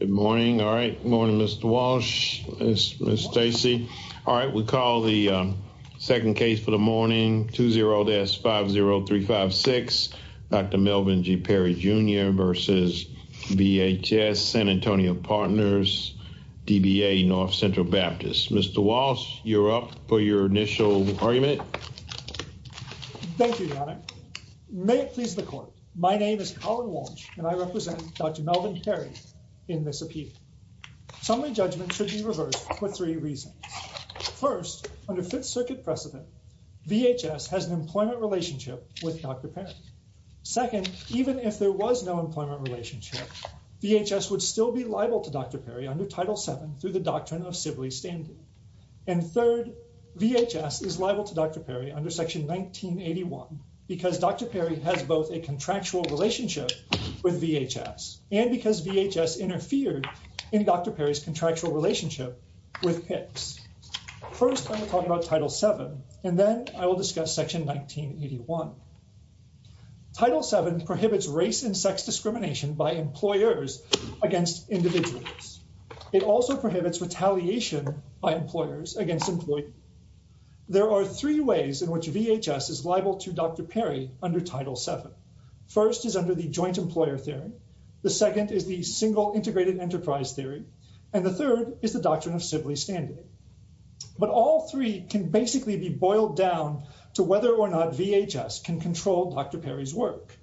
Good morning. All right. Morning, Mr. Walsh, Ms. Stacy. All right. We call the second case for the morning, 20-50356, Dr. Melvin G. Perry, Jr. v. VHS, San Antonio Partners, DBA, North Central Baptist. Mr. Walsh, you're up for your initial argument. Thank you, Your Honor. May it please the Court. My name is Colin Walsh, and I represent Dr. Perry, and I'm here to support this appeal. Summary judgment should be reversed for three reasons. First, under Fifth Circuit precedent, VHS has an employment relationship with Dr. Perry. Second, even if there was no employment relationship, VHS would still be liable to Dr. Perry under Title VII through the doctrine of Sibley Standard. And third, VHS is liable to Dr. Perry under Section 1981 because Dr. Perry has both a contractual relationship with VHS and because VHS interfered in Dr. Perry's contractual relationship with HICS. First, I'm going to talk about Title VII, and then I will discuss Section 1981. Title VII prohibits race and sex discrimination by employers against individuals. It also prohibits retaliation by employers against employees. There are three ways in which VHS is liable to Dr. Perry under Title VII. First is under the joint employer theory. The second is the single integrated enterprise theory. And the third is the doctrine of Sibley Standard. But all three can basically be boiled down to whether or not VHS can control Dr. Perry's work.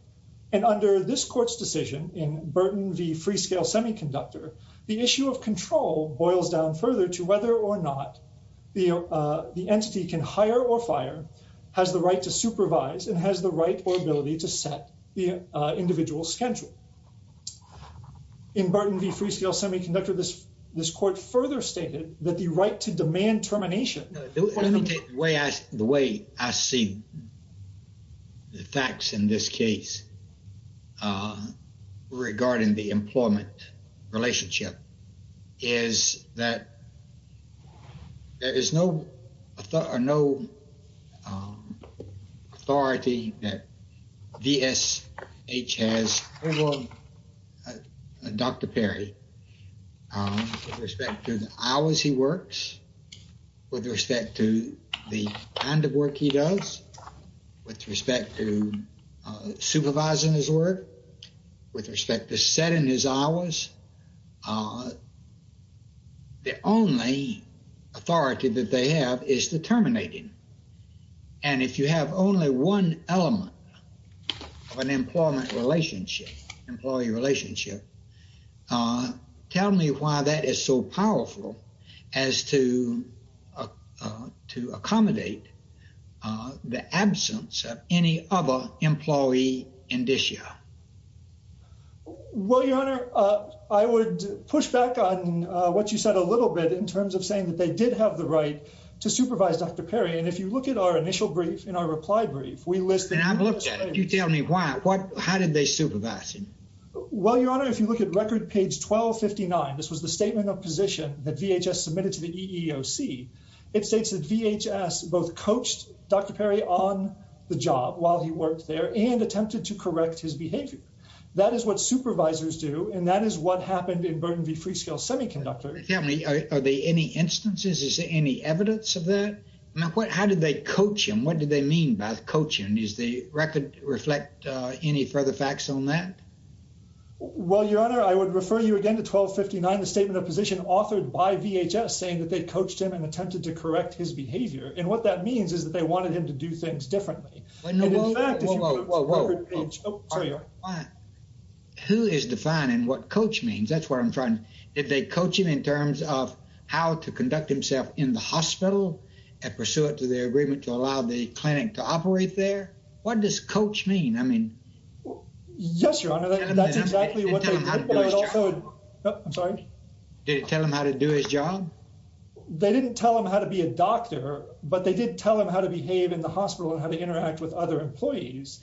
And under this Court's decision in Burton v. Freescale Semiconductor, the issue of control boils down further to whether or not the entity can hire or fire, has the right to supervise, and has the right or ability to set the individual's schedule. In Burton v. Freescale Semiconductor, this Court further stated that the right to demand termination... The way I see the facts in this case regarding the employment relationship is that there is no authority that VSH has over Dr. Perry with respect to the hours he works, with respect to the kind of work he does, with respect to supervising his work, with respect to setting his hours. The only authority that they have is to terminate him. And if you have only one element of an employment relationship, employee relationship, uh, tell me why that is so powerful as to, uh, uh, to accommodate, uh, the absence of any other employee indicia. Well, Your Honor, uh, I would push back on, uh, what you said a little bit in terms of saying that they did have the right to supervise Dr. Perry. And if you look at our initial brief in our reply brief, we listed... And I've looked at it. You tell me why, what, how did they supervise him? Well, Your Honor, if you look at record page 1259, this was the statement of position that VHS submitted to the EEOC. It states that VHS both coached Dr. Perry on the job while he worked there and attempted to correct his behavior. That is what supervisors do. And that is what happened in Burnaby Freescale Semiconductor. Tell me, are there any instances, is there any evidence of that? Now, what, how did they coach him? What did they mean by coaching? Is the record reflect, uh, any further facts on that? Well, Your Honor, I would refer you again to 1259, the statement of position authored by VHS saying that they coached him and attempted to correct his behavior. And what that means is that they wanted him to do things differently. Who is defining what coach means? That's what I'm trying... Did they coach him in terms of how to conduct himself in the hospital and pursue it to their agreement to allow the I mean... Yes, Your Honor, that's exactly what they... Did it tell him how to do his job? They didn't tell him how to be a doctor, but they did tell him how to behave in the hospital and how to interact with other employees.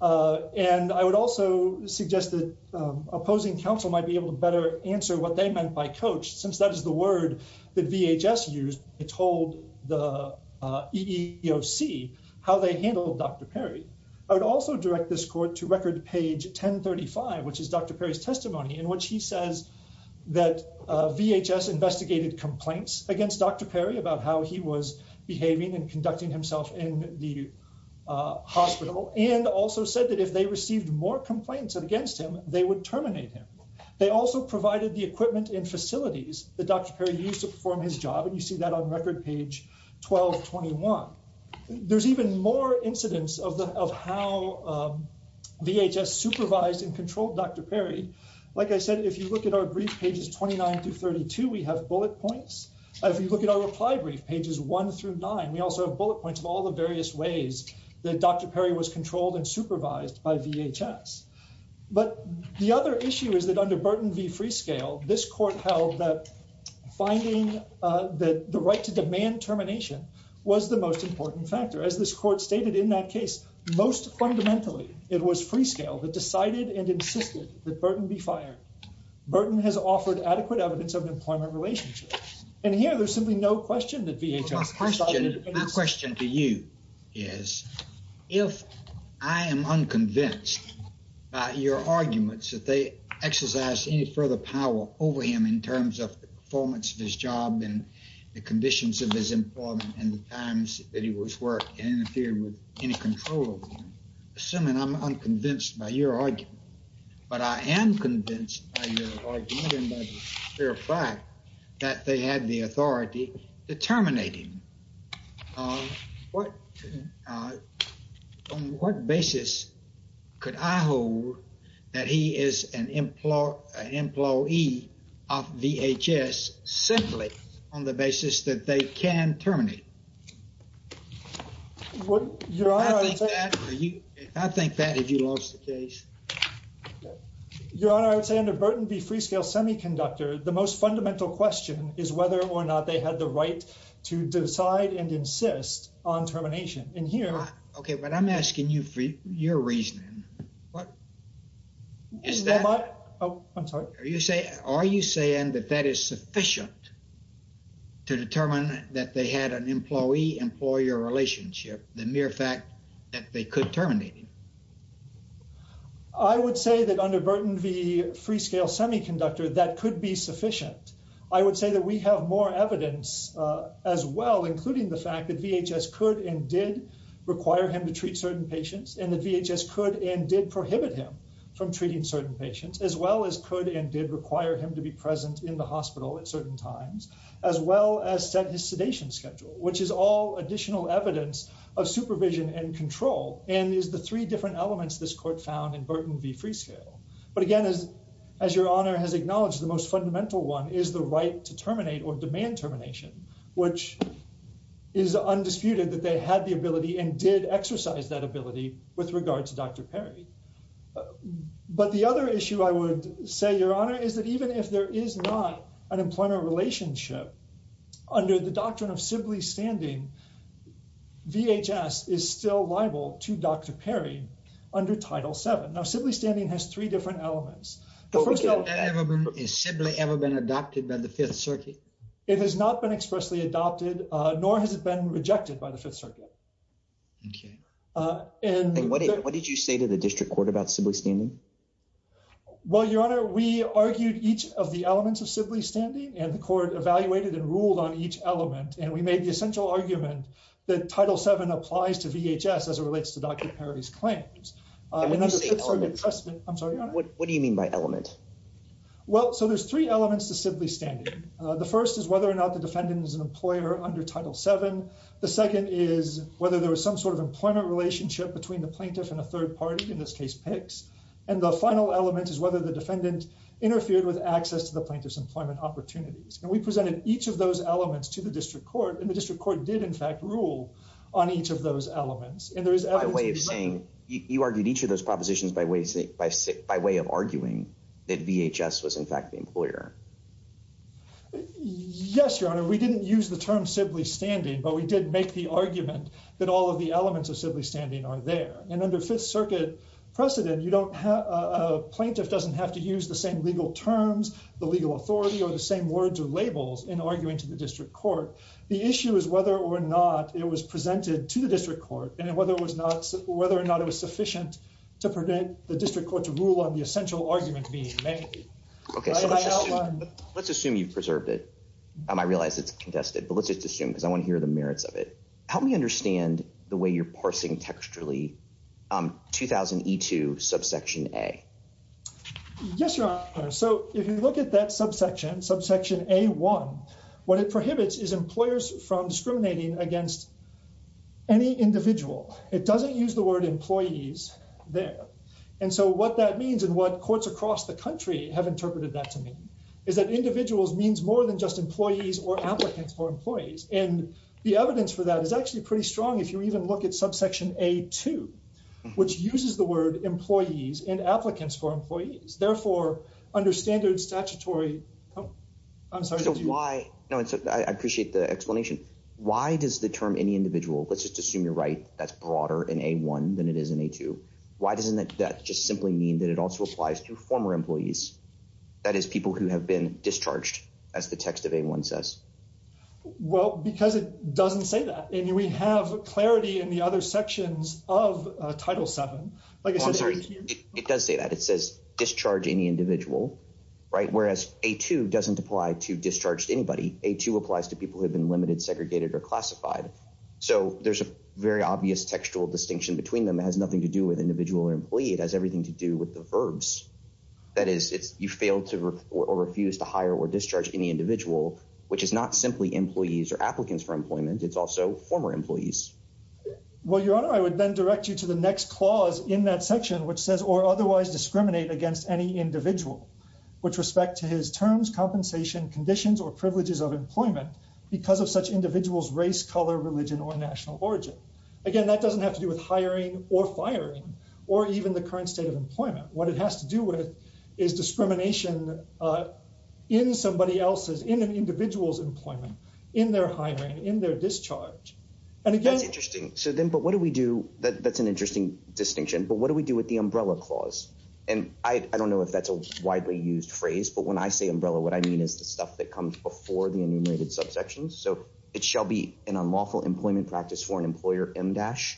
Uh, and I would also suggest that, um, opposing counsel might be able to better answer what they meant by coach, since that is the word that VHS used. It told the, uh, EEOC how they handled Dr. Perry. I would also direct this court to record page 1035, which is Dr. Perry's testimony in which he says that, uh, VHS investigated complaints against Dr. Perry about how he was behaving and conducting himself in the, uh, hospital, and also said that if they received more complaints against him, they would terminate him. They also provided the equipment and facilities that Dr. Perry used to perform his job, and you see that on record page 1221. There's even more incidents of the, of how, um, VHS supervised and controlled Dr. Perry. Like I said, if you look at our brief pages 29 through 32, we have bullet points. If you look at our reply brief pages one through nine, we also have bullet points of all the various ways that Dr. Perry was controlled and supervised by VHS. But the right to demand termination was the most important factor. As this court stated in that case, most fundamentally, it was Freescale that decided and insisted that Burton be fired. Burton has offered adequate evidence of an employment relationship. And here, there's simply no question that VHS- My question to you is, if I am unconvinced by your arguments that they exercised any further power over him in terms of the performance of his job and the conditions of his employment and the times that he was worked and interfered with any control over him, assuming I'm unconvinced by your argument, but I am convinced by your argument and by the fair fact that they had the authority to terminate him, um, what, uh, on what basis could I hold that he is an emplo- an employee of VHS simply on the basis that they can terminate? What- Your Honor- I think that- I think that if you lost the case- Your Honor, I would say under Burton v. Freescale Semiconductor, the most fundamental question is whether or not they had the right to decide and insist on termination. And here- Okay, but I'm asking you for your reasoning. What- Is that- Am I- Oh, I'm sorry. Are you saying- Are you saying that that is sufficient to determine that they had an employee-employer relationship, the mere fact that they could terminate him? I would say that under Burton v. Freescale Semiconductor, that could be sufficient. I would say that we have more evidence, uh, as well, including the fact that VHS could and did require him to treat certain patients and that VHS could and did prohibit him from treating certain patients as well as could and did require him to be present in the hospital at certain times as well as set his sedation schedule, which is all additional evidence of supervision and control and is the three different elements this court found in Burton v. Freescale. But again, as- as Your Honor has acknowledged, the most fundamental one is the right to terminate or demand termination, which is undisputed that they had the ability and did exercise that ability with regard to Dr. Perry. But the other issue I would say, Your Honor, is that even if there is not an employment relationship under the doctrine of Sibley standing, VHS is still liable to Dr. Perry under Title VII. Now, Sibley standing has three different elements. The first- Has that ever been- Has Sibley ever been adopted by the Fifth Circuit? It has not been expressly adopted nor has it been rejected by the Fifth Circuit. Okay. And- And what did- what did you say to the district court about Sibley standing? Well, Your Honor, we argued each of the elements of Sibley standing and the court evaluated and ruled on each element and we made the essential argument that Title VII applies to VHS as it relates to Dr. Perry's claims. And under the Fifth Circuit precedent- I'm sorry, Your Honor. What do you mean by element? Well, so there's three elements to Sibley standing. The first is whether or not the defendant is an employer under Title VII. The second is whether there was some sort of employment relationship between the plaintiff and a third party, in this case, PICS. And the final element is whether the defendant interfered with access to the plaintiff's employment opportunities. And we presented each of those elements to the district court and the district court did in fact rule on each of those elements. And there is evidence- By way of saying- You argued each of those propositions by way of arguing that VHS was in fact the employer. Yes, Your Honor. We didn't use the term Sibley standing, but we did make the argument that all of the elements of Sibley standing are there. And under Fifth Circuit precedent, a plaintiff doesn't have to use the same legal terms, the legal authority, or the same words or labels in arguing to the district court. The issue is whether or not it was presented to the district court and whether or not it was sufficient to prevent the district court to rule on the I realize it's contested, but let's just assume because I want to hear the merits of it. Help me understand the way you're parsing textually 2000E2 subsection A. Yes, Your Honor. So if you look at that subsection, subsection A1, what it prohibits is employers from discriminating against any individual. It doesn't use the word employees there. And so what that means and what courts across the country have interpreted that to mean is that individuals means more than just employees or applicants for employees. And the evidence for that is actually pretty strong. If you even look at subsection A2, which uses the word employees and applicants for employees. Therefore, under standard statutory, I'm sorry, why? No, I appreciate the explanation. Why does the term any individual, let's just assume you're right, that's broader in A1 than it is in A2. Why doesn't that just simply mean that it also applies to former employees? That is, people who have been discharged, as the text of A1 says? Well, because it doesn't say that. I mean, we have clarity in the other sections of Title VII. It does say that. It says discharge any individual, right? Whereas A2 doesn't apply to discharged anybody. A2 applies to people who have been limited, segregated, or classified. So there's a very obvious textual distinction between them. It has nothing to do with individual or employee. It has everything to do with the verbs. That is, you fail to or refuse to hire or discharge any individual, which is not simply employees or applicants for employment. It's also former employees. Well, Your Honor, I would then direct you to the next clause in that section, which says, or otherwise discriminate against any individual with respect to his terms, compensation, conditions, or privileges of employment because of such individuals, race, color, religion, or national origin. Again, that doesn't have to do with or even the current state of employment. What it has to do with is discrimination in somebody else's, in an individual's employment, in their hiring, in their discharge. That's interesting. So then, but what do we do? That's an interesting distinction. But what do we do with the umbrella clause? And I don't know if that's a widely used phrase, but when I say umbrella, what I mean is the stuff that comes before the enumerated subsections. So it shall be an unlawful employment practice for an employer MDASH.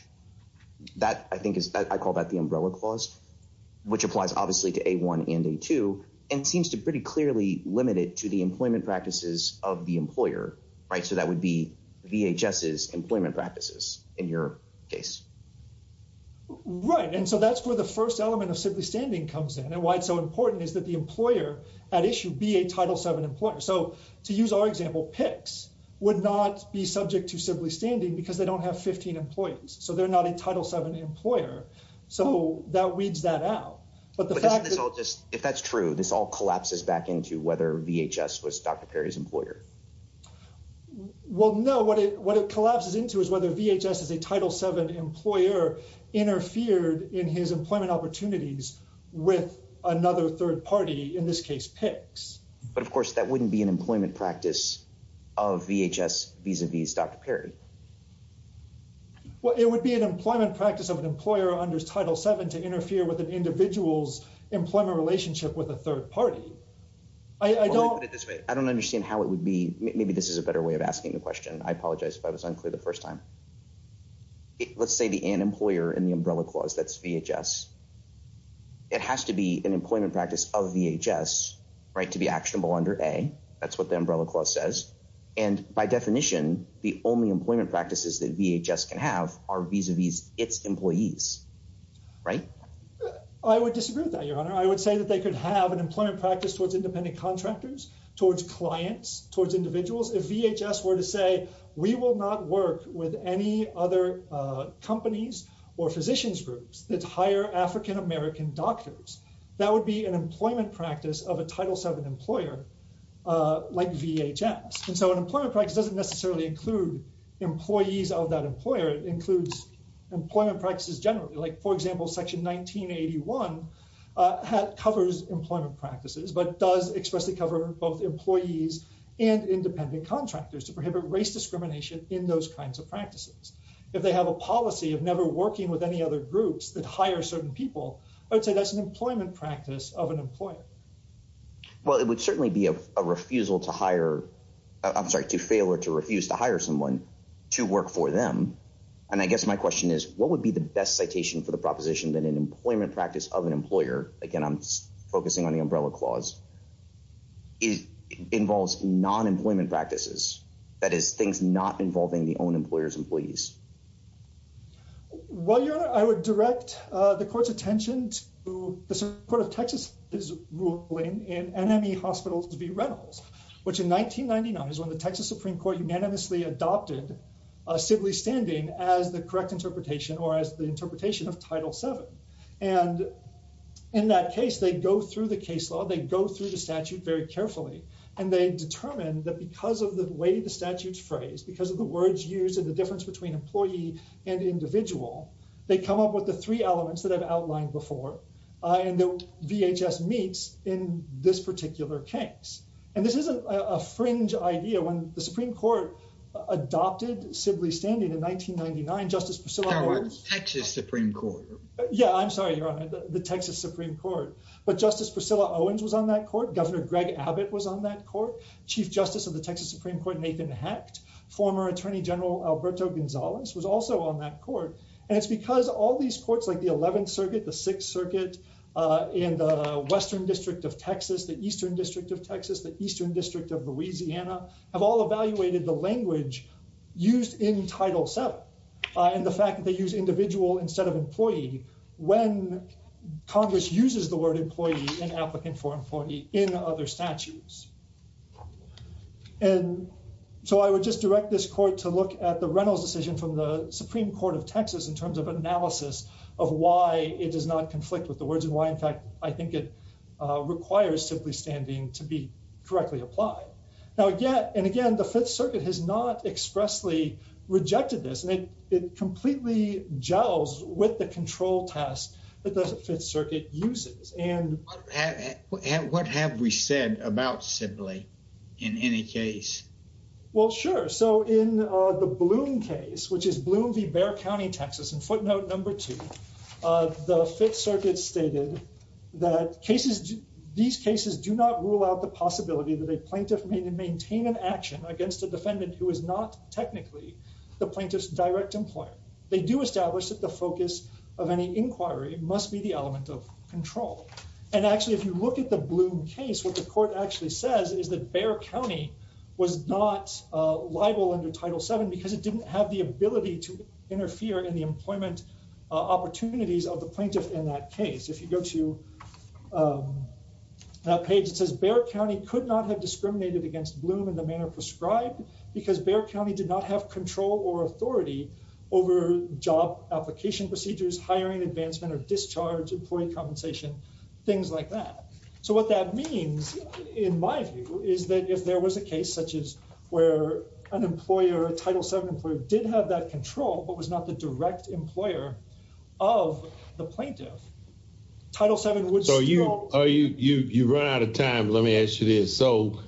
That I think is, I call that the umbrella clause, which applies obviously to A1 and A2 and seems to pretty clearly limit it to the employment practices of the employer, right? So that would be VHS's employment practices in your case. Right. And so that's where the first element of simply standing comes in and why it's so important is that the employer at issue be a Title VII employer. So to use our example, PICS would not be subject to simply standing because they don't have 15 employees. So they're not a Title VII employer. So that weeds that out. But the fact that- But isn't this all just, if that's true, this all collapses back into whether VHS was Dr. Perry's employer? Well, no. What it collapses into is whether VHS is a Title VII employer interfered in his employment opportunities with another third party, in this case, PICS. But of course that wouldn't be an employment practice of VHS vis-a-vis Dr. Perry. Well, it would be an employment practice of an employer under Title VII to interfere with an individual's employment relationship with a third party. I don't- Well, let me put it this way. I don't understand how it would be, maybe this is a better way of asking the question. I apologize if I was unclear the first time. Let's say the an employer in the umbrella clause, that's VHS. It has to be an employment practice of VHS, to be actionable under A. That's what the umbrella clause says. And by definition, the only employment practices that VHS can have are vis-a-vis its employees. Right? I would disagree with that, Your Honor. I would say that they could have an employment practice towards independent contractors, towards clients, towards individuals. If VHS were to say, we will not work with any other companies or physicians groups that hire African-American doctors, that would be an employment practice of a Title VII employer like VHS. And so an employment practice doesn't necessarily include employees of that employer. It includes employment practices generally. Like for example, Section 1981 covers employment practices, but does expressly cover both employees and independent contractors to prohibit race discrimination in those kinds of practices. If they have a policy of never working with other groups that hire certain people, I would say that's an employment practice of an employer. Well, it would certainly be a refusal to hire, I'm sorry, to fail or to refuse to hire someone to work for them. And I guess my question is, what would be the best citation for the proposition that an employment practice of an employer, again, I'm focusing on the umbrella clause, it involves non-employment practices. That is things not involving the own employer's employees. Well, Your Honor, I would direct the court's attention to the Supreme Court of Texas ruling in NME Hospitals v. Reynolds, which in 1999 is when the Texas Supreme Court unanimously adopted a sibling standing as the correct interpretation or as the interpretation of Title VII. And in that case, they go through the case law, they go through the statute very carefully, and they determine that because of the way the statute's phrased, because of the words used and the difference between employee and individual, they come up with the three elements that I've outlined before, and the VHS meets in this particular case. And this isn't a fringe idea. When the Supreme Court adopted sibling standing in 1999, Justice Priscilla Owens- That was Texas Supreme Court. Yeah, I'm sorry, Your Honor, the Texas Supreme Court. But Justice Priscilla Owens was on that court. Governor Greg Abbott was on that court. Chief Justice of the Texas Supreme Court, Nathan Hecht, former Attorney General Alberto Gonzalez was also on that court. And it's because all these courts like the 11th Circuit, the Sixth Circuit, and the Western District of Texas, the Eastern District of Texas, the Eastern District of Louisiana, have all evaluated the language used in Title VII and the fact that they use individual instead of employee when Congress uses the word employee and applicant for employee in other statutes. And so I would just direct this court to look at the Reynolds decision from the Supreme Court of Texas in terms of analysis of why it does not conflict with the words and why, in fact, I think it requires simply standing to be correctly applied. Now, again, and again, the Fifth Circuit has not expressly rejected this, and it completely gels with the control test that the Fifth Circuit uses. And- Well, sure. So in the Bloom case, which is Bloom v. Bexar County, Texas, in footnote number two, the Fifth Circuit stated that these cases do not rule out the possibility that a plaintiff may maintain an action against a defendant who is not technically the plaintiff's direct employer. They do establish that the focus of any inquiry must be the element of control. And actually, if you look at the Bloom case, what the court actually says is that Bexar County was not liable under Title VII because it didn't have the ability to interfere in the employment opportunities of the plaintiff in that case. If you go to that page, it says, Bexar County could not have discriminated against Bloom in the manner prescribed because Bexar County did not have control or authority over job application procedures, hiring advancement, or discharge, employee compensation, things like that. So what that means, in my view, is that if there was a case such as where an employer, a Title VII employer, did have that control but was not the direct employer of the plaintiff, Title VII would still- So you run out of time. Let me ask you this. So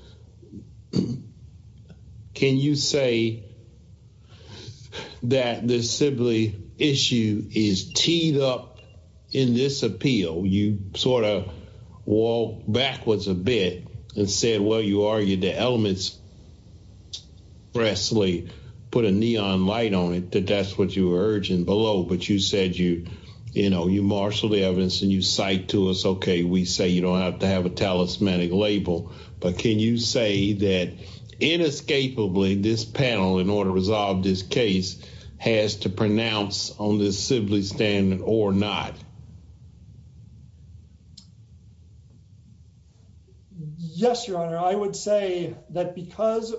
can you say that the Sibley issue is teed up in this appeal? You sort of walked backwards a bit and said, well, you argued the elements expressly, put a neon light on it, that that's what you were urging below. But you said you marshaled the evidence and you cite to us, okay, we say you don't have to have a talismanic label. But can you say that inescapably this panel, in order to resolve this case, has to pronounce on this Sibley stand or not? Yes, Your Honor. I would say that because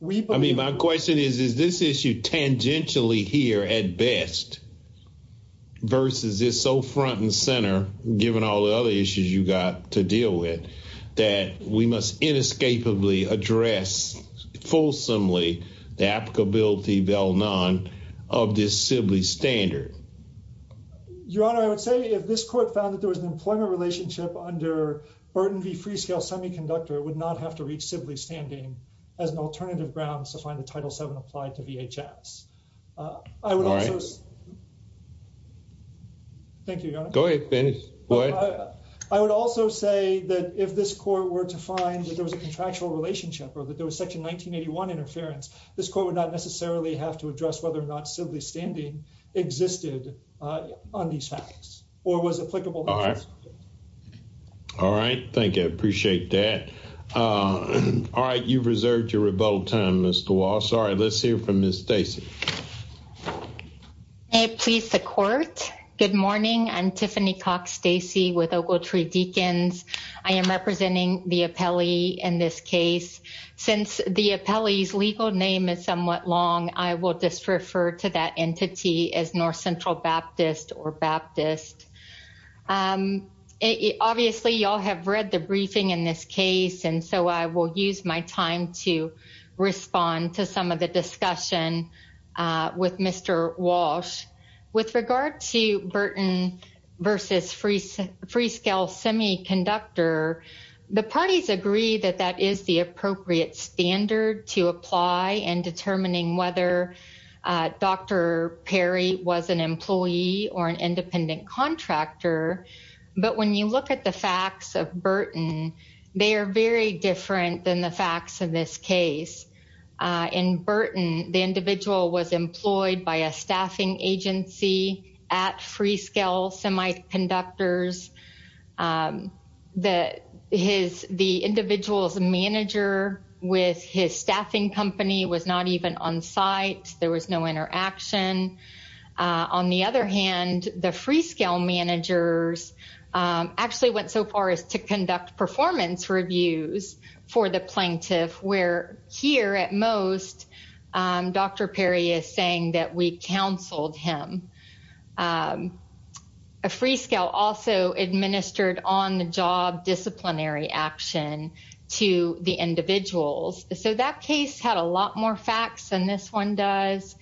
we- I mean, my question is, is this issue tangentially here at best versus it's so front and center, given all the other issues you got to deal with, that we must inescapably address fulsomely the applicability of this Sibley standard? Your Honor, I would say if this court found that there was an employment relationship under Burton v. Freescale Semiconductor, it would not have to reach Sibley standing as an alternative grounds to find the Title VII applied to VHS. I would also- All right. Thank you, Your Honor. Go ahead, finish. Go ahead. I would also say that if this court were to find that there was a contractual relationship or that there was Section 1981 interference, this court would not necessarily have to address whether or not Sibley standing existed on these facts or was applicable. All right. All right. Thank you. I appreciate that. All right. You've reserved your rebuttal time, Mr. Walsh. All right. Let's hear from Ms. Stacy. May it please the Court. Good morning. I'm Tiffany Cox Stacy with Ogletree Deacons. I am representing the appellee in this case. Since the appellee's legal name is somewhat long, I will just refer to that entity as North Central Baptist or Baptist. Obviously, you all have read the briefing in this case, and so I will use my time to discussion with Mr. Walsh. With regard to Burton versus Freescale Semiconductor, the parties agree that that is the appropriate standard to apply in determining whether Dr. Perry was an employee or an independent contractor. But when you look at the facts of Burton, they are very different than the facts in this case. In Burton, the individual was employed by a staffing agency at Freescale Semiconductors. The individual's manager with his staffing company was not even on site. There was no interaction. On the other hand, the Freescale managers actually went so far as to conduct performance reviews for the plaintiff, where here at most, Dr. Perry is saying that we counseled him. Freescale also administered on-the-job disciplinary action to the individuals. So that case had a lot more facts than this one does.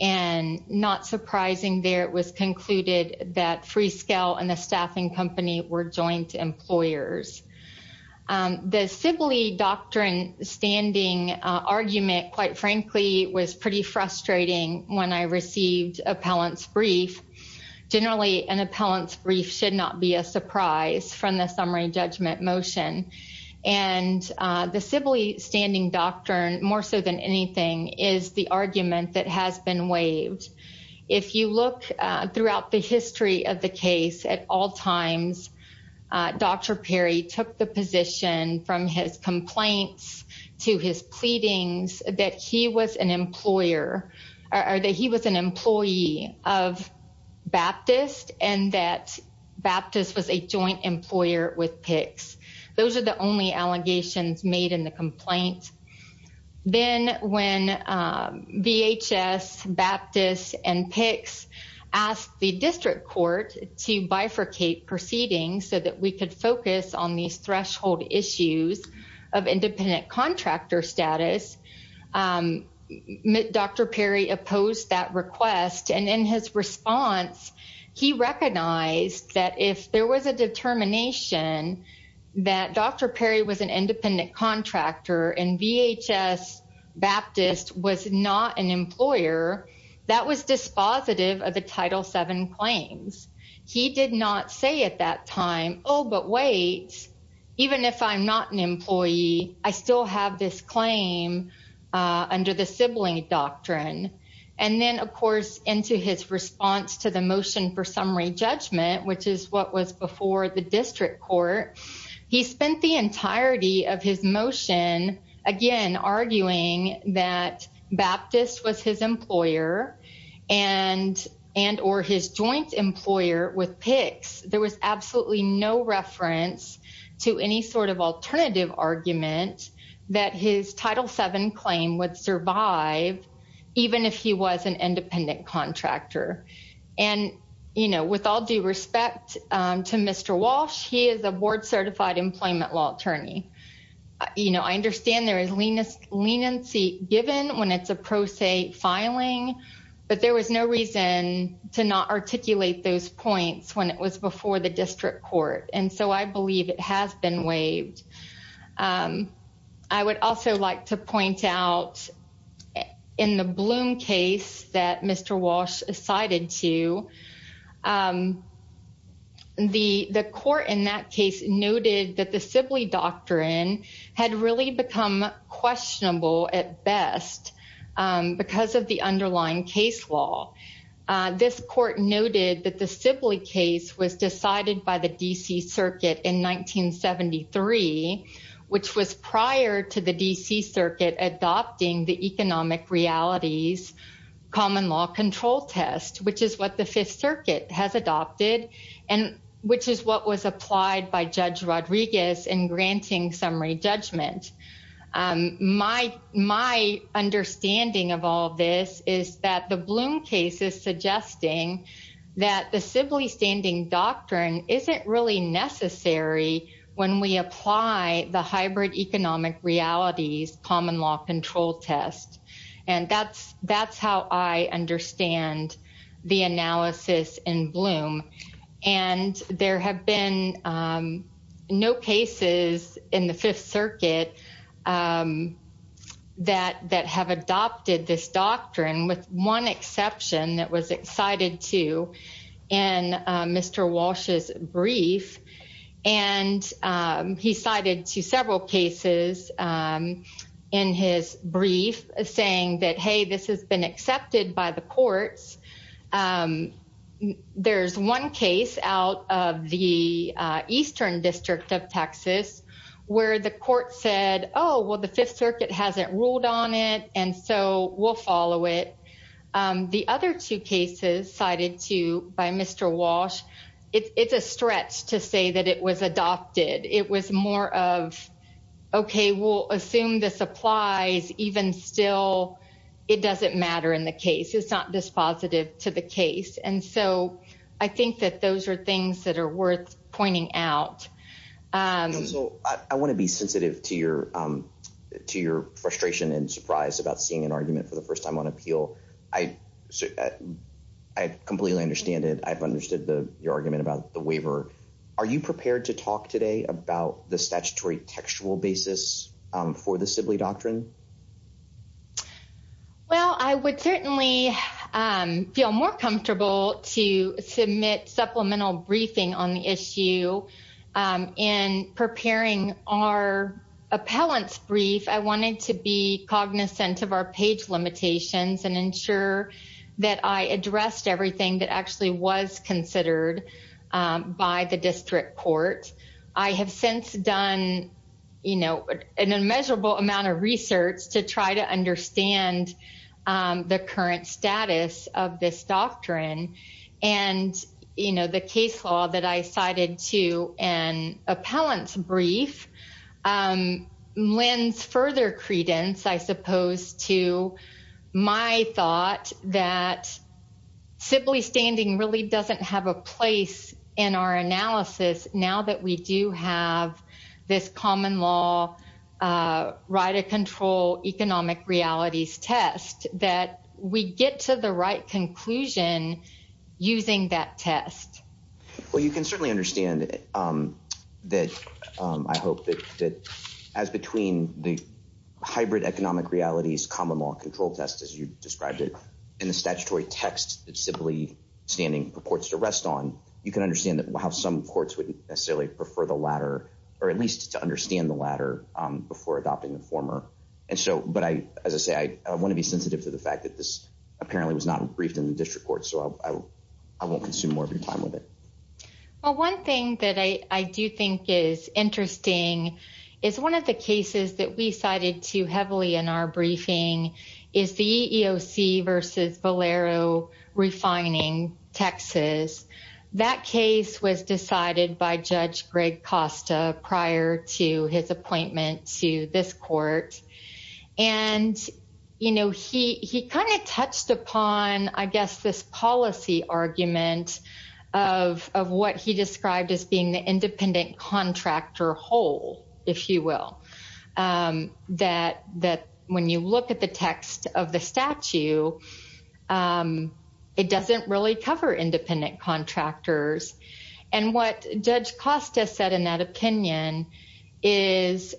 And not surprising there, it was concluded that Freescale and the staffing company were joint employers. The Sibley Doctrine standing argument, quite frankly, was pretty frustrating when I received appellant's brief. Generally, an appellant's brief should not be a surprise from the summary judgment motion. And the Sibley standing doctrine, more so than anything, is the argument that has been the position from his complaints to his pleadings that he was an employer or that he was an employee of Baptist and that Baptist was a joint employer with PICS. Those are the only allegations made in the complaint. Then when VHS, Baptist, and PICS asked the district court to bifurcate proceedings so that we could focus on these threshold issues of independent contractor status, Dr. Perry opposed that request. And in his response, he recognized that if there was a determination that Dr. Perry was an independent contractor and VHS, Baptist was not an employer, that was dispositive of the Title VII claims. He did not say at that time, oh, but wait, even if I'm not an employee, I still have this claim under the Sibley Doctrine. And then, of course, into his response to the motion for summary judgment, which is what was before the and or his joint employer with PICS, there was absolutely no reference to any sort of alternative argument that his Title VII claim would survive, even if he was an independent contractor. And with all due respect to Mr. Walsh, he is a board certified employment law attorney. You know, I understand there is leniency given when it's a pro se filing, but there was no reason to not articulate those points when it was before the district court. And so I believe it has been waived. I would also like to point out in the Bloom case that Mr. Walsh cited to, the court in that case noted that the Sibley Doctrine had really become questionable at best because of the underlying case law. This court noted that the Sibley case was decided by the D.C. Circuit in 1973, which was prior to the D.C. Circuit adopting the economic realities common law control test, which is what the Fifth Circuit has adopted and which is what was applied by Judge Rodriguez in granting summary judgment. My understanding of all this is that the Bloom case is suggesting that the Sibley standing doctrine isn't really necessary when we apply the hybrid economic realities common law control test. And that's how I understand the analysis in Bloom. And there have been no cases in the Fifth Circuit that have adopted this doctrine, with one exception that was cited to in Mr. Walsh's brief. And he cited to several cases in his brief saying that, hey, this has been accepted by the courts. There's one case out of the Eastern District of Texas where the court said, oh, well, the Fifth Circuit hasn't ruled on it, and so we'll follow it. The other two cases cited to by Mr. Walsh, it's a stretch to say that it was adopted. It was more of, okay, we'll assume this applies, even still, it doesn't matter in the case. It's not dispositive to the case. And so I think that those are things that are worth pointing out. So I want to be sensitive to your frustration and surprise about seeing an argument for the waiver. Are you prepared to talk today about the statutory textual basis for the Sibley Doctrine? Well, I would certainly feel more comfortable to submit supplemental briefing on the issue. In preparing our appellant's brief, I wanted to be cognizant of our page limitations and ensure that I addressed everything that actually was considered by the district court. I have since done an immeasurable amount of research to try to understand the current status of this doctrine. And the case law that I cited to an appellant's brief lends further credence, I suppose, to my thought that Sibley standing really doesn't have a place in our analysis now that we do have this common law right of control economic realities test that we get to the right conclusion using that test. Well, you can certainly understand that I hope that as between the test as you described it in the statutory text that Sibley standing purports to rest on, you can understand that how some courts wouldn't necessarily prefer the latter, or at least to understand the latter before adopting the former. And so, but I, as I say, I want to be sensitive to the fact that this apparently was not briefed in the district court. So I won't consume more of your time with it. Well, one thing that I do think is interesting is one of the cases that we cited too heavily in our briefing is the EEOC versus Valero refining Texas. That case was decided by Judge Greg Costa prior to his appointment to this court. And, you know, he kind of touched upon, I guess, this policy argument of what he described as being independent contractor whole, if you will, that when you look at the text of the statute, it doesn't really cover independent contractors. And what Judge Costa said in that opinion is,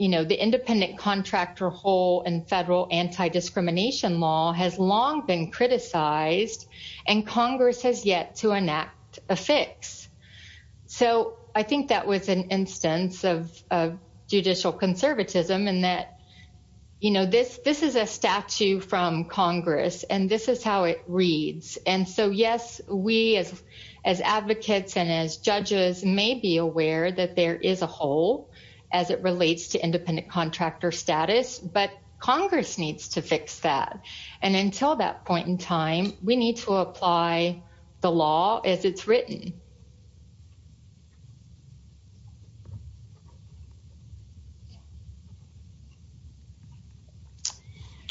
you know, the independent contractor whole and federal anti-discrimination law has long been criticized and Congress has yet to enact a fix. So I think that was an instance of judicial conservatism in that, you know, this is a statute from Congress and this is how it reads. And so, yes, we as advocates and as judges may be aware that there is a whole as it relates to independent contractor status, but Congress needs to fix that. And until that point in time, we need to apply the law as it's written.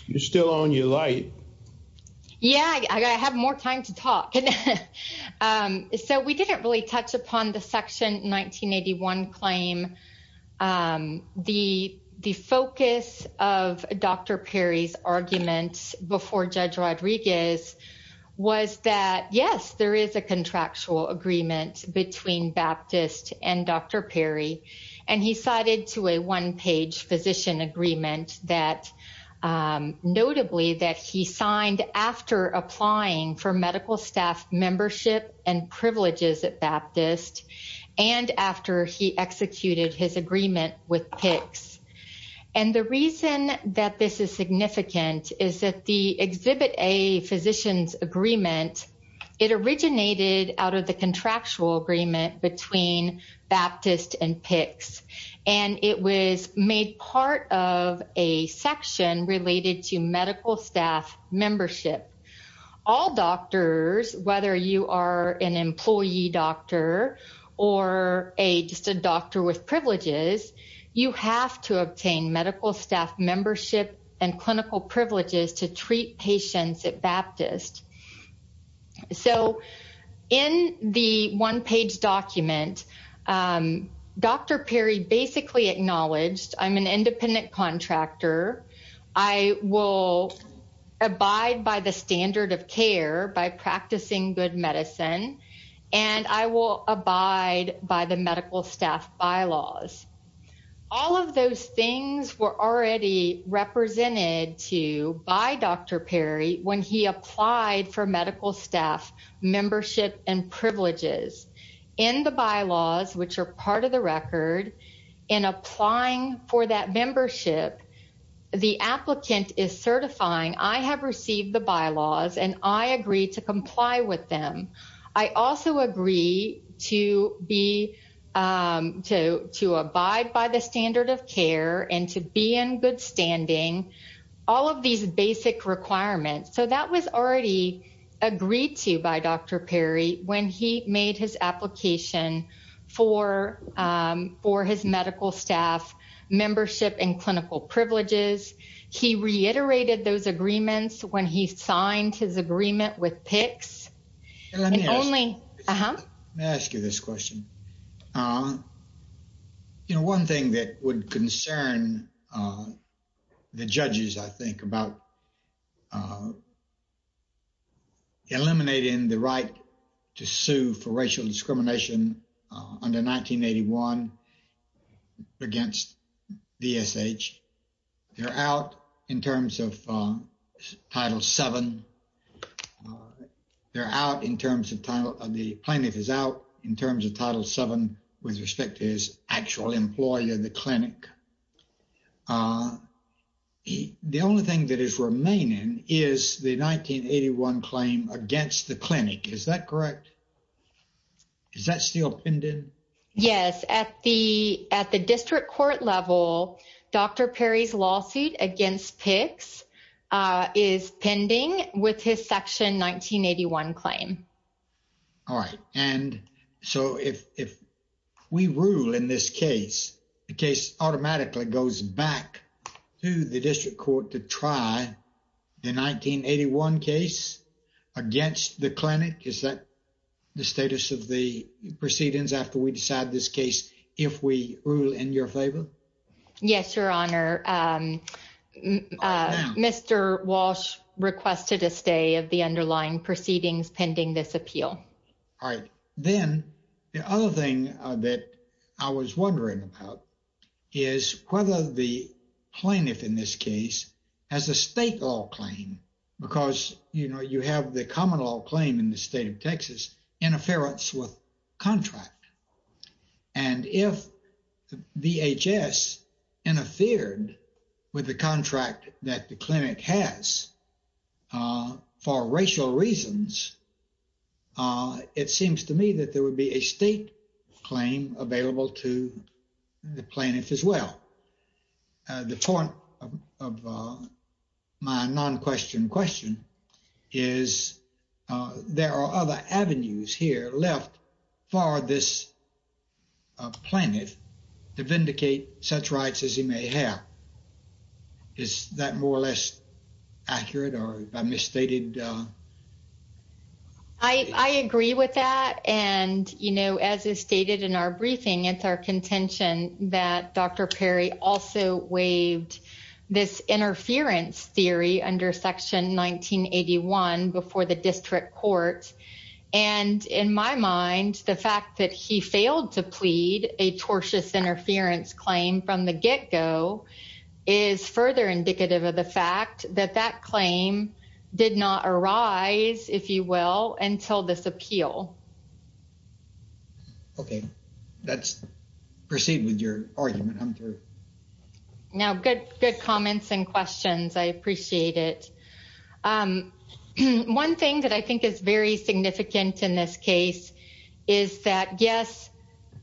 You're still on your light. Yeah, I have more time to talk. Okay. So we didn't really touch upon the Section 1981 claim. The focus of Dr. Perry's argument before Judge Rodriguez was that, yes, there is a contractual agreement between Baptist and Dr. Perry. And he cited to a one-page physician agreement that notably that he signed after applying for medical staff membership and privileges at Baptist and after he executed his agreement with PICS. And the reason that this is significant is that the Exhibit A physician's agreement, it originated out of the contractual agreement between Baptist and PICS. And it was made part of a section related to medical staff membership. All doctors, whether you are an employee doctor or just a doctor with privileges, you have to obtain medical staff membership and clinical privileges to treat patients at Baptist. So in the one-page document, Dr. Perry basically acknowledged, I'm an independent contractor. I will abide by the standard of care by practicing good medicine, and I will abide by the medical staff bylaws. All of those things were already represented to by Dr. Perry when he applied for medical staff membership and privileges. In the bylaws, which are part of the record, in applying for that membership, the applicant is certifying, I have received the bylaws and I agree to comply with them. I also agree to abide by the standard of care and to be in good standing, all of these basic requirements. So that was already agreed to by Dr. Perry when he made his application for his medical staff membership and clinical privileges. He reiterated those agreements when he signed his agreement with PICS. Let me ask you this question. You know, one thing that would concern the judges, I think, about eliminating the right to sue for racial discrimination under 1981 against DSH. They're out in terms of Title VII. The plaintiff is out in terms of Title VII with respect to his actual employee in the clinic. The only thing that is remaining is the 1981 claim against the clinic. Is that correct? Is that still pinned in? Yes. At the district court level, Dr. Perry's lawsuit against PICS is pending with his section 1981 claim. All right. And so if we rule in this case, the case automatically goes back to the district court to try the 1981 case against the clinic. Is the status of the proceedings after we decide this case, if we rule in your favor? Yes, Your Honor. Mr. Walsh requested a stay of the underlying proceedings pending this appeal. All right. Then the other thing that I was wondering about is whether the plaintiff in this case has a state law claim because, you know, you have the common law claim in the state of Texas, interference with contract. And if VHS interfered with the contract that the clinic has for racial reasons, it seems to me that there would be a state claim available to the plaintiff as well. The point of my non-question question is there are other avenues here left for this plaintiff to vindicate such rights as he may have. Is that more or less accurate or am I misstated? I agree with that. And, you know, as is stated in our briefing, it's our contention that Dr. Perry also waived this interference theory under section 1981 before the district court. And in my mind, the fact that he failed to plead a tortious interference claim from the get-go is further indicative of the fact that claim did not arise, if you will, until this appeal. Okay. Let's proceed with your argument. I'm through. Now, good comments and questions. I appreciate it. One thing that I think is very significant in this case is that, yes,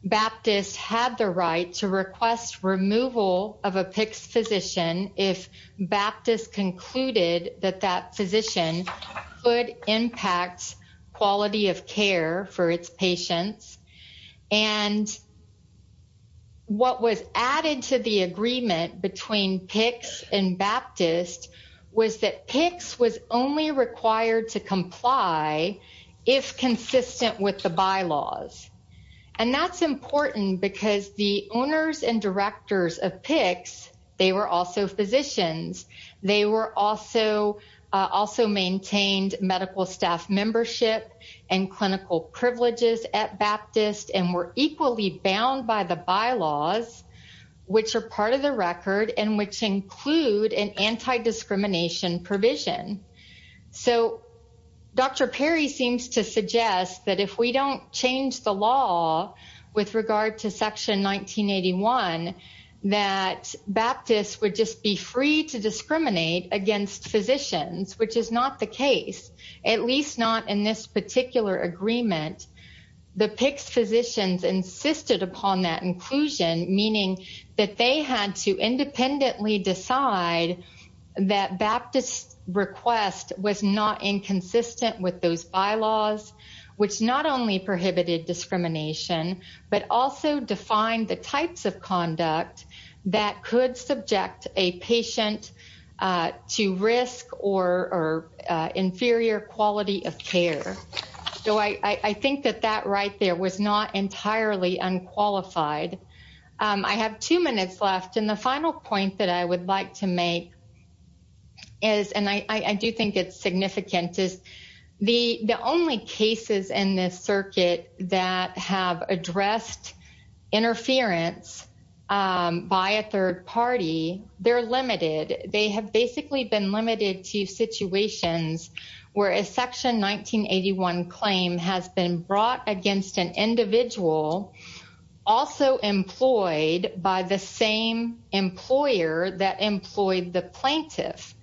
Baptist had the right to request removal of a PICS physician if Baptist concluded that that physician could impact quality of care for its patients. And what was added to the agreement between PICS and Baptist was that PICS was only required to comply if consistent with the bylaws. And that's important because the owners and directors of PICS, they were also physicians. They were also maintained medical staff membership and clinical privileges at Baptist and were equally bound by the bylaws, which are part of the record and which include an anti-discrimination provision. So, Dr. Perry seems to suggest that if we don't change the law with regard to Section 1981, that Baptist would just be free to discriminate against physicians, which is not the case, at least not in this particular agreement. The PICS physicians insisted upon that inclusion, meaning that they had to independently decide that Baptist's request was not inconsistent with those bylaws, which not only prohibited discrimination, but also defined the types of conduct that could subject a patient to risk or inferior quality of care. So, I think that that there was not entirely unqualified. I have two minutes left. And the final point that I would like to make is, and I do think it's significant, is the only cases in this circuit that have addressed interference by a third party, they're limited. They have basically been limited to situations where a Section 1981 claim has been brought against an individual also employed by the same employer that employed the plaintiff.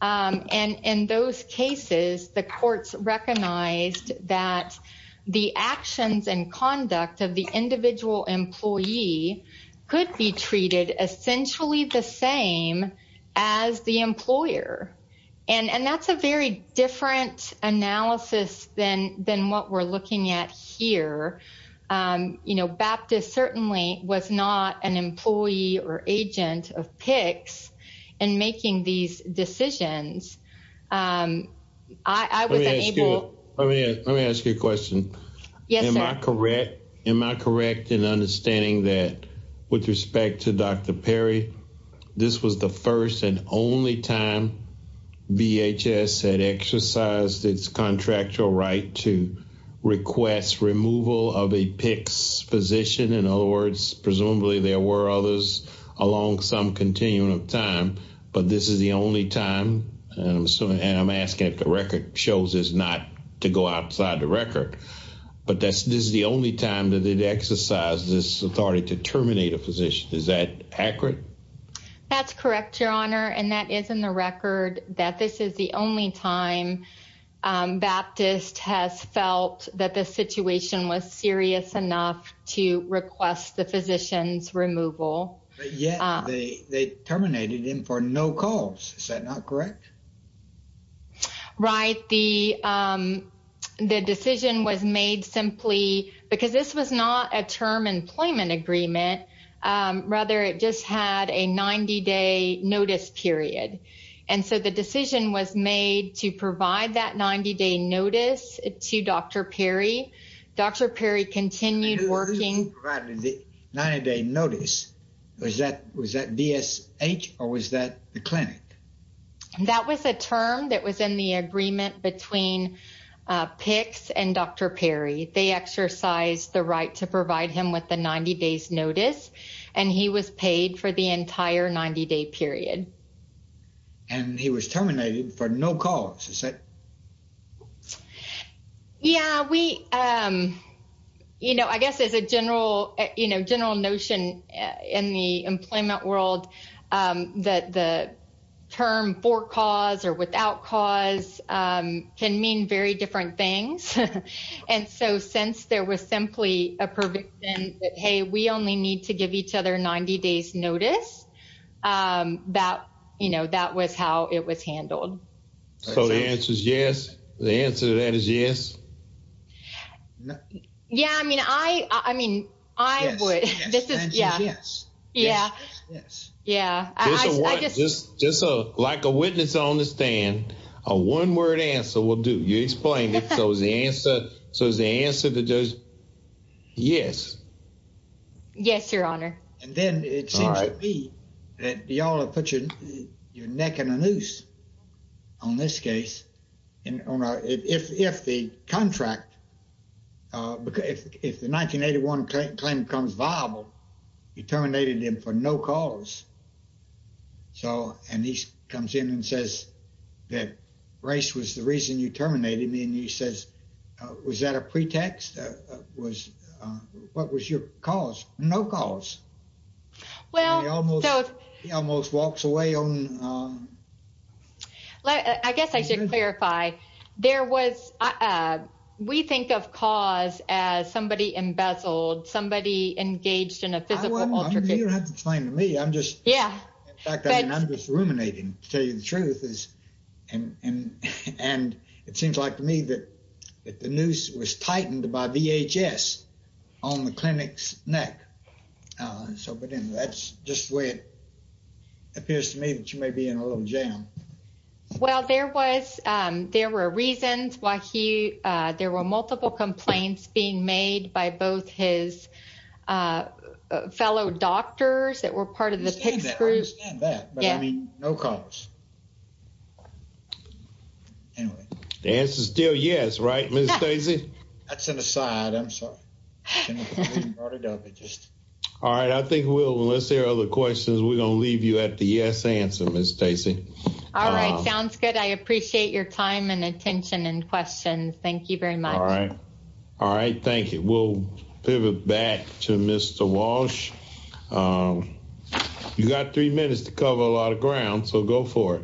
And in those cases, the courts recognized that the actions and conduct of the individual employee could be treated essentially the same as the employer. And that's a very different analysis than what we're looking at here. You know, Baptist certainly was not an employee or agent of PICS in making these decisions. Let me ask you a question. Yes, sir. Am I correct in understanding that with respect to Dr. Perry, this was the first and only time VHS had exercised its contractual right to request removal of a PICS physician. In other words, presumably there were others along some continuum of time, but this is the only time, and I'm asking if the record shows this not to go outside the record, but this is the only time that it exercised this authority to terminate a physician. Is that accurate? That's correct, Your Honor. And that is in the record that this is the only time Baptist has felt that the situation was serious enough to request the physician's removal. But yet they terminated him for no cause. Is that not correct? Right. The decision was made simply because this was not a term employment agreement. Rather, it just had a 90-day notice period. And so the decision was made to provide that 90-day notice to Dr. Perry. Dr. Perry continued working. 90-day notice. Was that DSH or was that the clinic? That was a term that was in the agreement between PICS and Dr. Perry. They exercised the right to provide him with the 90-days notice, and he was paid for the entire 90-day period. And he was terminated for no cause. Is that... Yeah, we, you know, I guess as a general, you know, general notion in the employment world that the term for cause or without cause can mean very different things. And so since there was simply a provision that, hey, we only need to give each other 90-days notice, that, you know, that was how it was handled. So the answer is yes? The answer to that is yes? No. Yeah, I mean, I, I mean, I would. This is, yeah. Yeah. Yeah. I just... Just like a witness on the stand, a one-word answer will do. You explained it. So is the answer, so is the answer to just yes? Yes, your honor. And then it seems to me that you all have put your neck in a noose on this case. And if the contract, if the 1981 claim becomes viable, you terminated him for no cause. So, and he comes in and says that race was the reason you terminated me. And he says, was that a pretext? Was, what was your cause? No cause. Well, so... He almost walks away on... I guess I should clarify. There was, we think of cause as somebody embezzled, somebody engaged in a physical altercation. You don't have to explain to me. I'm just... Yeah. In fact, I mean, I'm just ruminating, to tell you the truth. And it seems like to me that the noose was tightened by VHS on the clinic's neck. So, but then that's just the way it appears to me that you may be in a little jam. Well, there was, there were reasons why he, there were multiple complaints being made by both his fellow doctors that were part of the PICS group. I understand that, but I mean, no cause. Anyway. The answer's still yes, right, Ms. Stacey? That's an aside. I'm sorry. All right. I think we'll, unless there are other questions, we're going to leave you at the yes answer, Ms. Stacey. All right. Sounds good. I appreciate your time and attention and questions. Thank you very much. All right. All right. Thank you. We'll pivot back to Mr. Walsh. You got three minutes to cover a lot of ground, so go for it.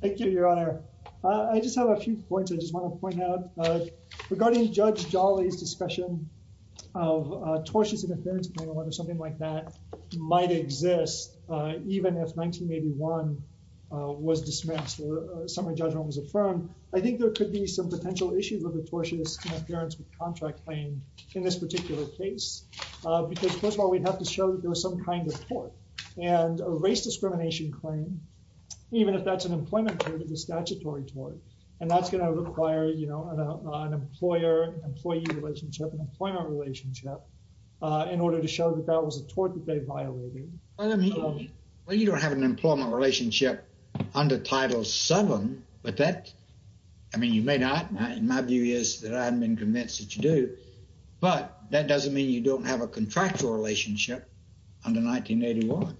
Thank you, Your Honor. I just have a few points I just want to point out. Regarding Judge Jolly's discussion of a tortious interference claim or something like that might exist even if 1981 was dismissed or a summary judgment was affirmed. I think there could be some potential issues with the tortious interference with contract claim in this particular case. Because first of all, we'd have to show that there was some kind of tort and a race discrimination claim. Even if that's an employment tort, it's a statutory tort. And that's going to require an employer-employee relationship, an employment relationship, in order to show that that was a tort that they violated. Well, you don't have an employment relationship under Title VII, but that, I mean, you may not. My view is that I haven't been convinced that you do. But that doesn't mean you don't have a contractual relationship under 1981.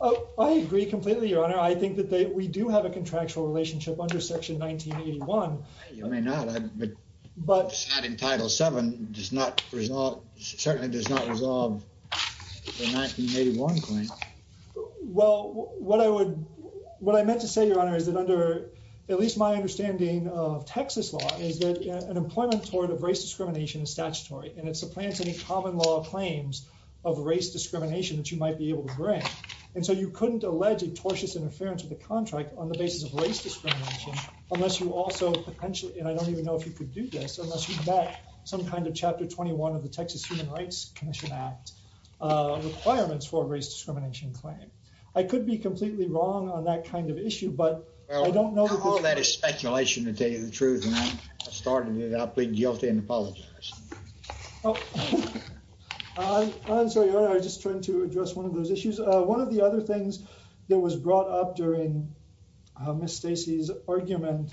Oh, I agree completely, Your Honor. I think that we do have a contractual relationship under Section 1981. You may not, but that in Title VII certainly does not resolve the 1981 claim. Well, what I meant to say, Your Honor, is that under at least my understanding of Texas law is that an employment tort of race discrimination is common law claims of race discrimination that you might be able to bring. And so you couldn't allege a tortious interference with the contract on the basis of race discrimination unless you also potentially, and I don't even know if you could do this, unless you vet some kind of Chapter 21 of the Texas Human Rights Commission Act requirements for a race discrimination claim. I could be completely wrong on that kind of issue, but I don't know. All that is speculation to tell you the truth, and I started it out being guilty and apologize. I'm sorry, Your Honor. I just tried to address one of those issues. One of the other things that was brought up during Ms. Stacy's argument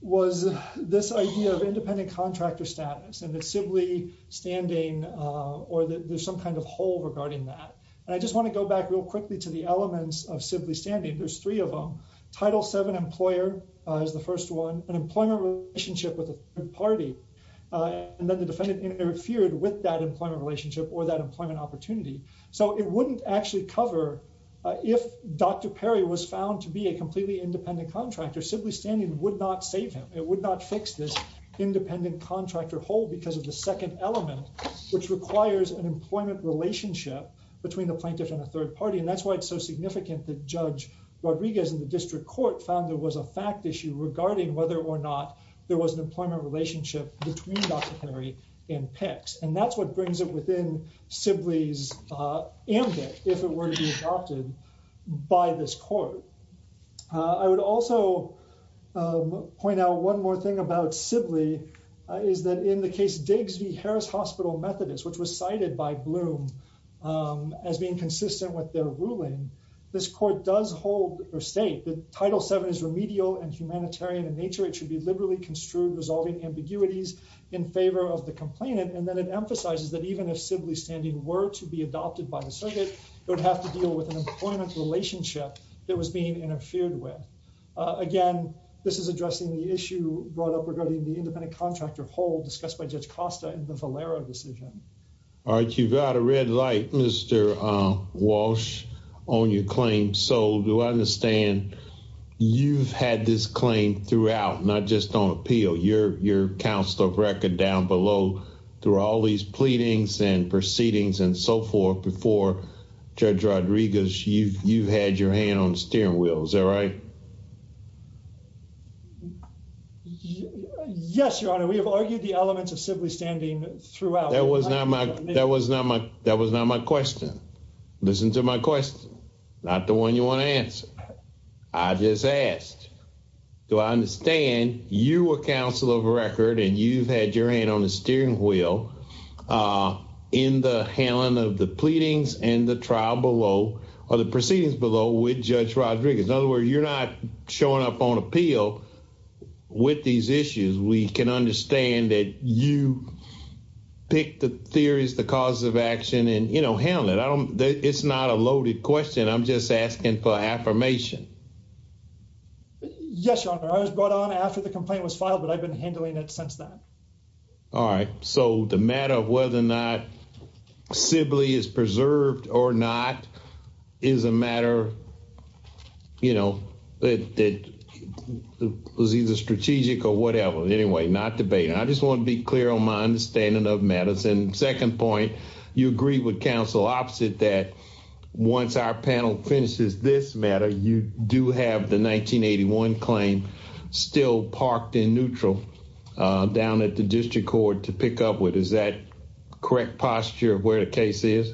was this idea of independent contractor status and the Sibley standing or that there's some kind of hole regarding that. And I just want to go back real quickly to the elements of Sibley standing. There's three of them. Title VII employer is the one, an employment relationship with a third party. And then the defendant interfered with that employment relationship or that employment opportunity. So it wouldn't actually cover if Dr. Perry was found to be a completely independent contractor, Sibley standing would not save him. It would not fix this independent contractor hole because of the second element, which requires an employment relationship between the plaintiff and a third party. And that's why it's so significant that Judge Rodriguez in the district court found there was a fact issue regarding whether or not there was an employment relationship between Dr. Perry and PICS. And that's what brings it within Sibley's ambit if it were to be adopted by this court. I would also point out one more thing about Sibley is that in the case Diggs v. Harris Hospital Methodist, which was cited by Bloom as being consistent with their ruling, this court does hold or state that it should be liberally construed, resolving ambiguities in favor of the complainant. And then it emphasizes that even if Sibley standing were to be adopted by the circuit, it would have to deal with an employment relationship that was being interfered with. Again, this is addressing the issue brought up regarding the independent contractor hole discussed by Judge Costa in the Valera decision. All right. You've got a red light, Mr. Walsh, on your claim. So do I understand you've had this claim throughout, not just on appeal, your counsel of record down below through all these pleadings and proceedings and so forth before Judge Rodriguez, you've had your hand on the steering wheel. Is that right? Yes, Your Honor. We have argued the elements of Sibley standing throughout. That was not my question. Listen to my question. Not the one you want to answer. I just asked, do I understand you were counsel of record and you've had your hand on the steering wheel in the handling of the pleadings and the trial below or the proceedings below with Judge Rodriguez? In other words, you're not showing up on appeal with these issues. We can understand that you pick the theories, the cause of action and, you know, handle it. It's not a loaded question. I'm just asking for affirmation. Yes, Your Honor. I was brought on after the complaint was filed, but I've been handling it since then. All right. So the matter of whether or not Sibley is preserved or not is a matter, you know, that was either strategic or whatever. Anyway, not debating. I just want to be clear on my understanding of matters. And second point, you agree with counsel opposite that once our panel finishes this matter, you do have the 1981 claim still parked in neutral down at the district court to pick up with. Is that correct posture where the case is?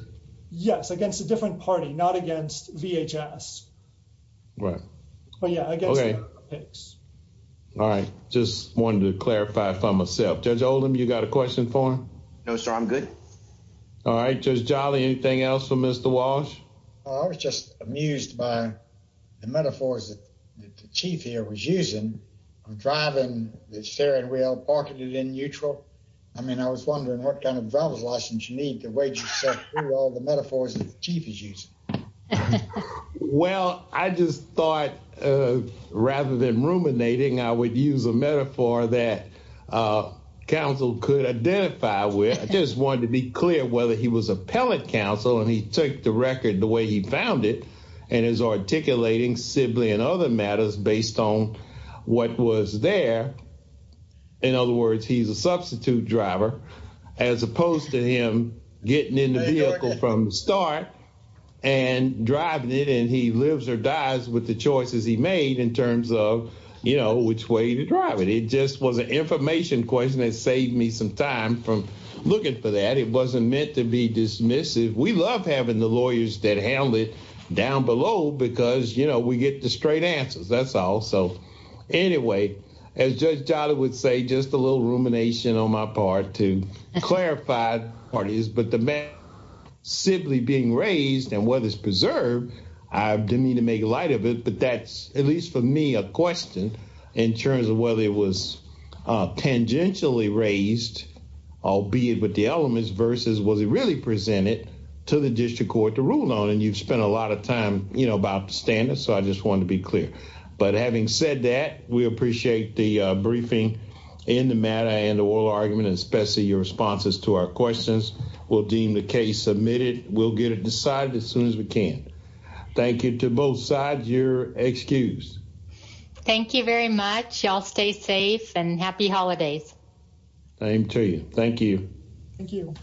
Yes, against a different party, not against VHS. Right. Well, yeah, I guess. All right. Just wanted to clarify for myself. Judge Oldham, you got a question for him? No, sir. I'm good. All right, Judge Jolly. Anything else for Mr. Walsh? I was just amused by the metaphors that the chief here was using. I'm driving the steering wheel, parking it in neutral. I mean, I was wondering what kind of driver's license you need the way you said all the metaphors chief is using. Well, I just thought rather than ruminating, I would use a metaphor that counsel could identify with. I just wanted to be clear whether he was appellate counsel and he took the record the way he found it and is articulating simply in other matters based on what was there. In other words, he's a substitute driver as opposed to him getting in the vehicle from the start and driving it. And he lives or dies with the choices he made in terms of, you know, which way to drive it. It just was an information question that saved me some time from looking for that. It wasn't meant to be dismissive. We love having the lawyers that handle it down below because, you know, we get the straight answers. That's all. So anyway, as Judge Jolly would say, just a little rumination on my part to parties, but the man simply being raised and whether it's preserved, I didn't mean to make light of it, but that's at least for me a question in terms of whether it was tangentially raised, albeit with the elements, versus was it really presented to the district court to rule on. And you've spent a lot of time, you know, about the standards. So I just wanted to be clear. But having said that, we appreciate the briefing in the matter and the oral argument, especially your responses to our questions. We'll deem the case submitted. We'll get it decided as soon as we can. Thank you to both sides. You're excused. Thank you very much. Y'all stay safe and happy holidays. Same to you. Thank you. Thank you.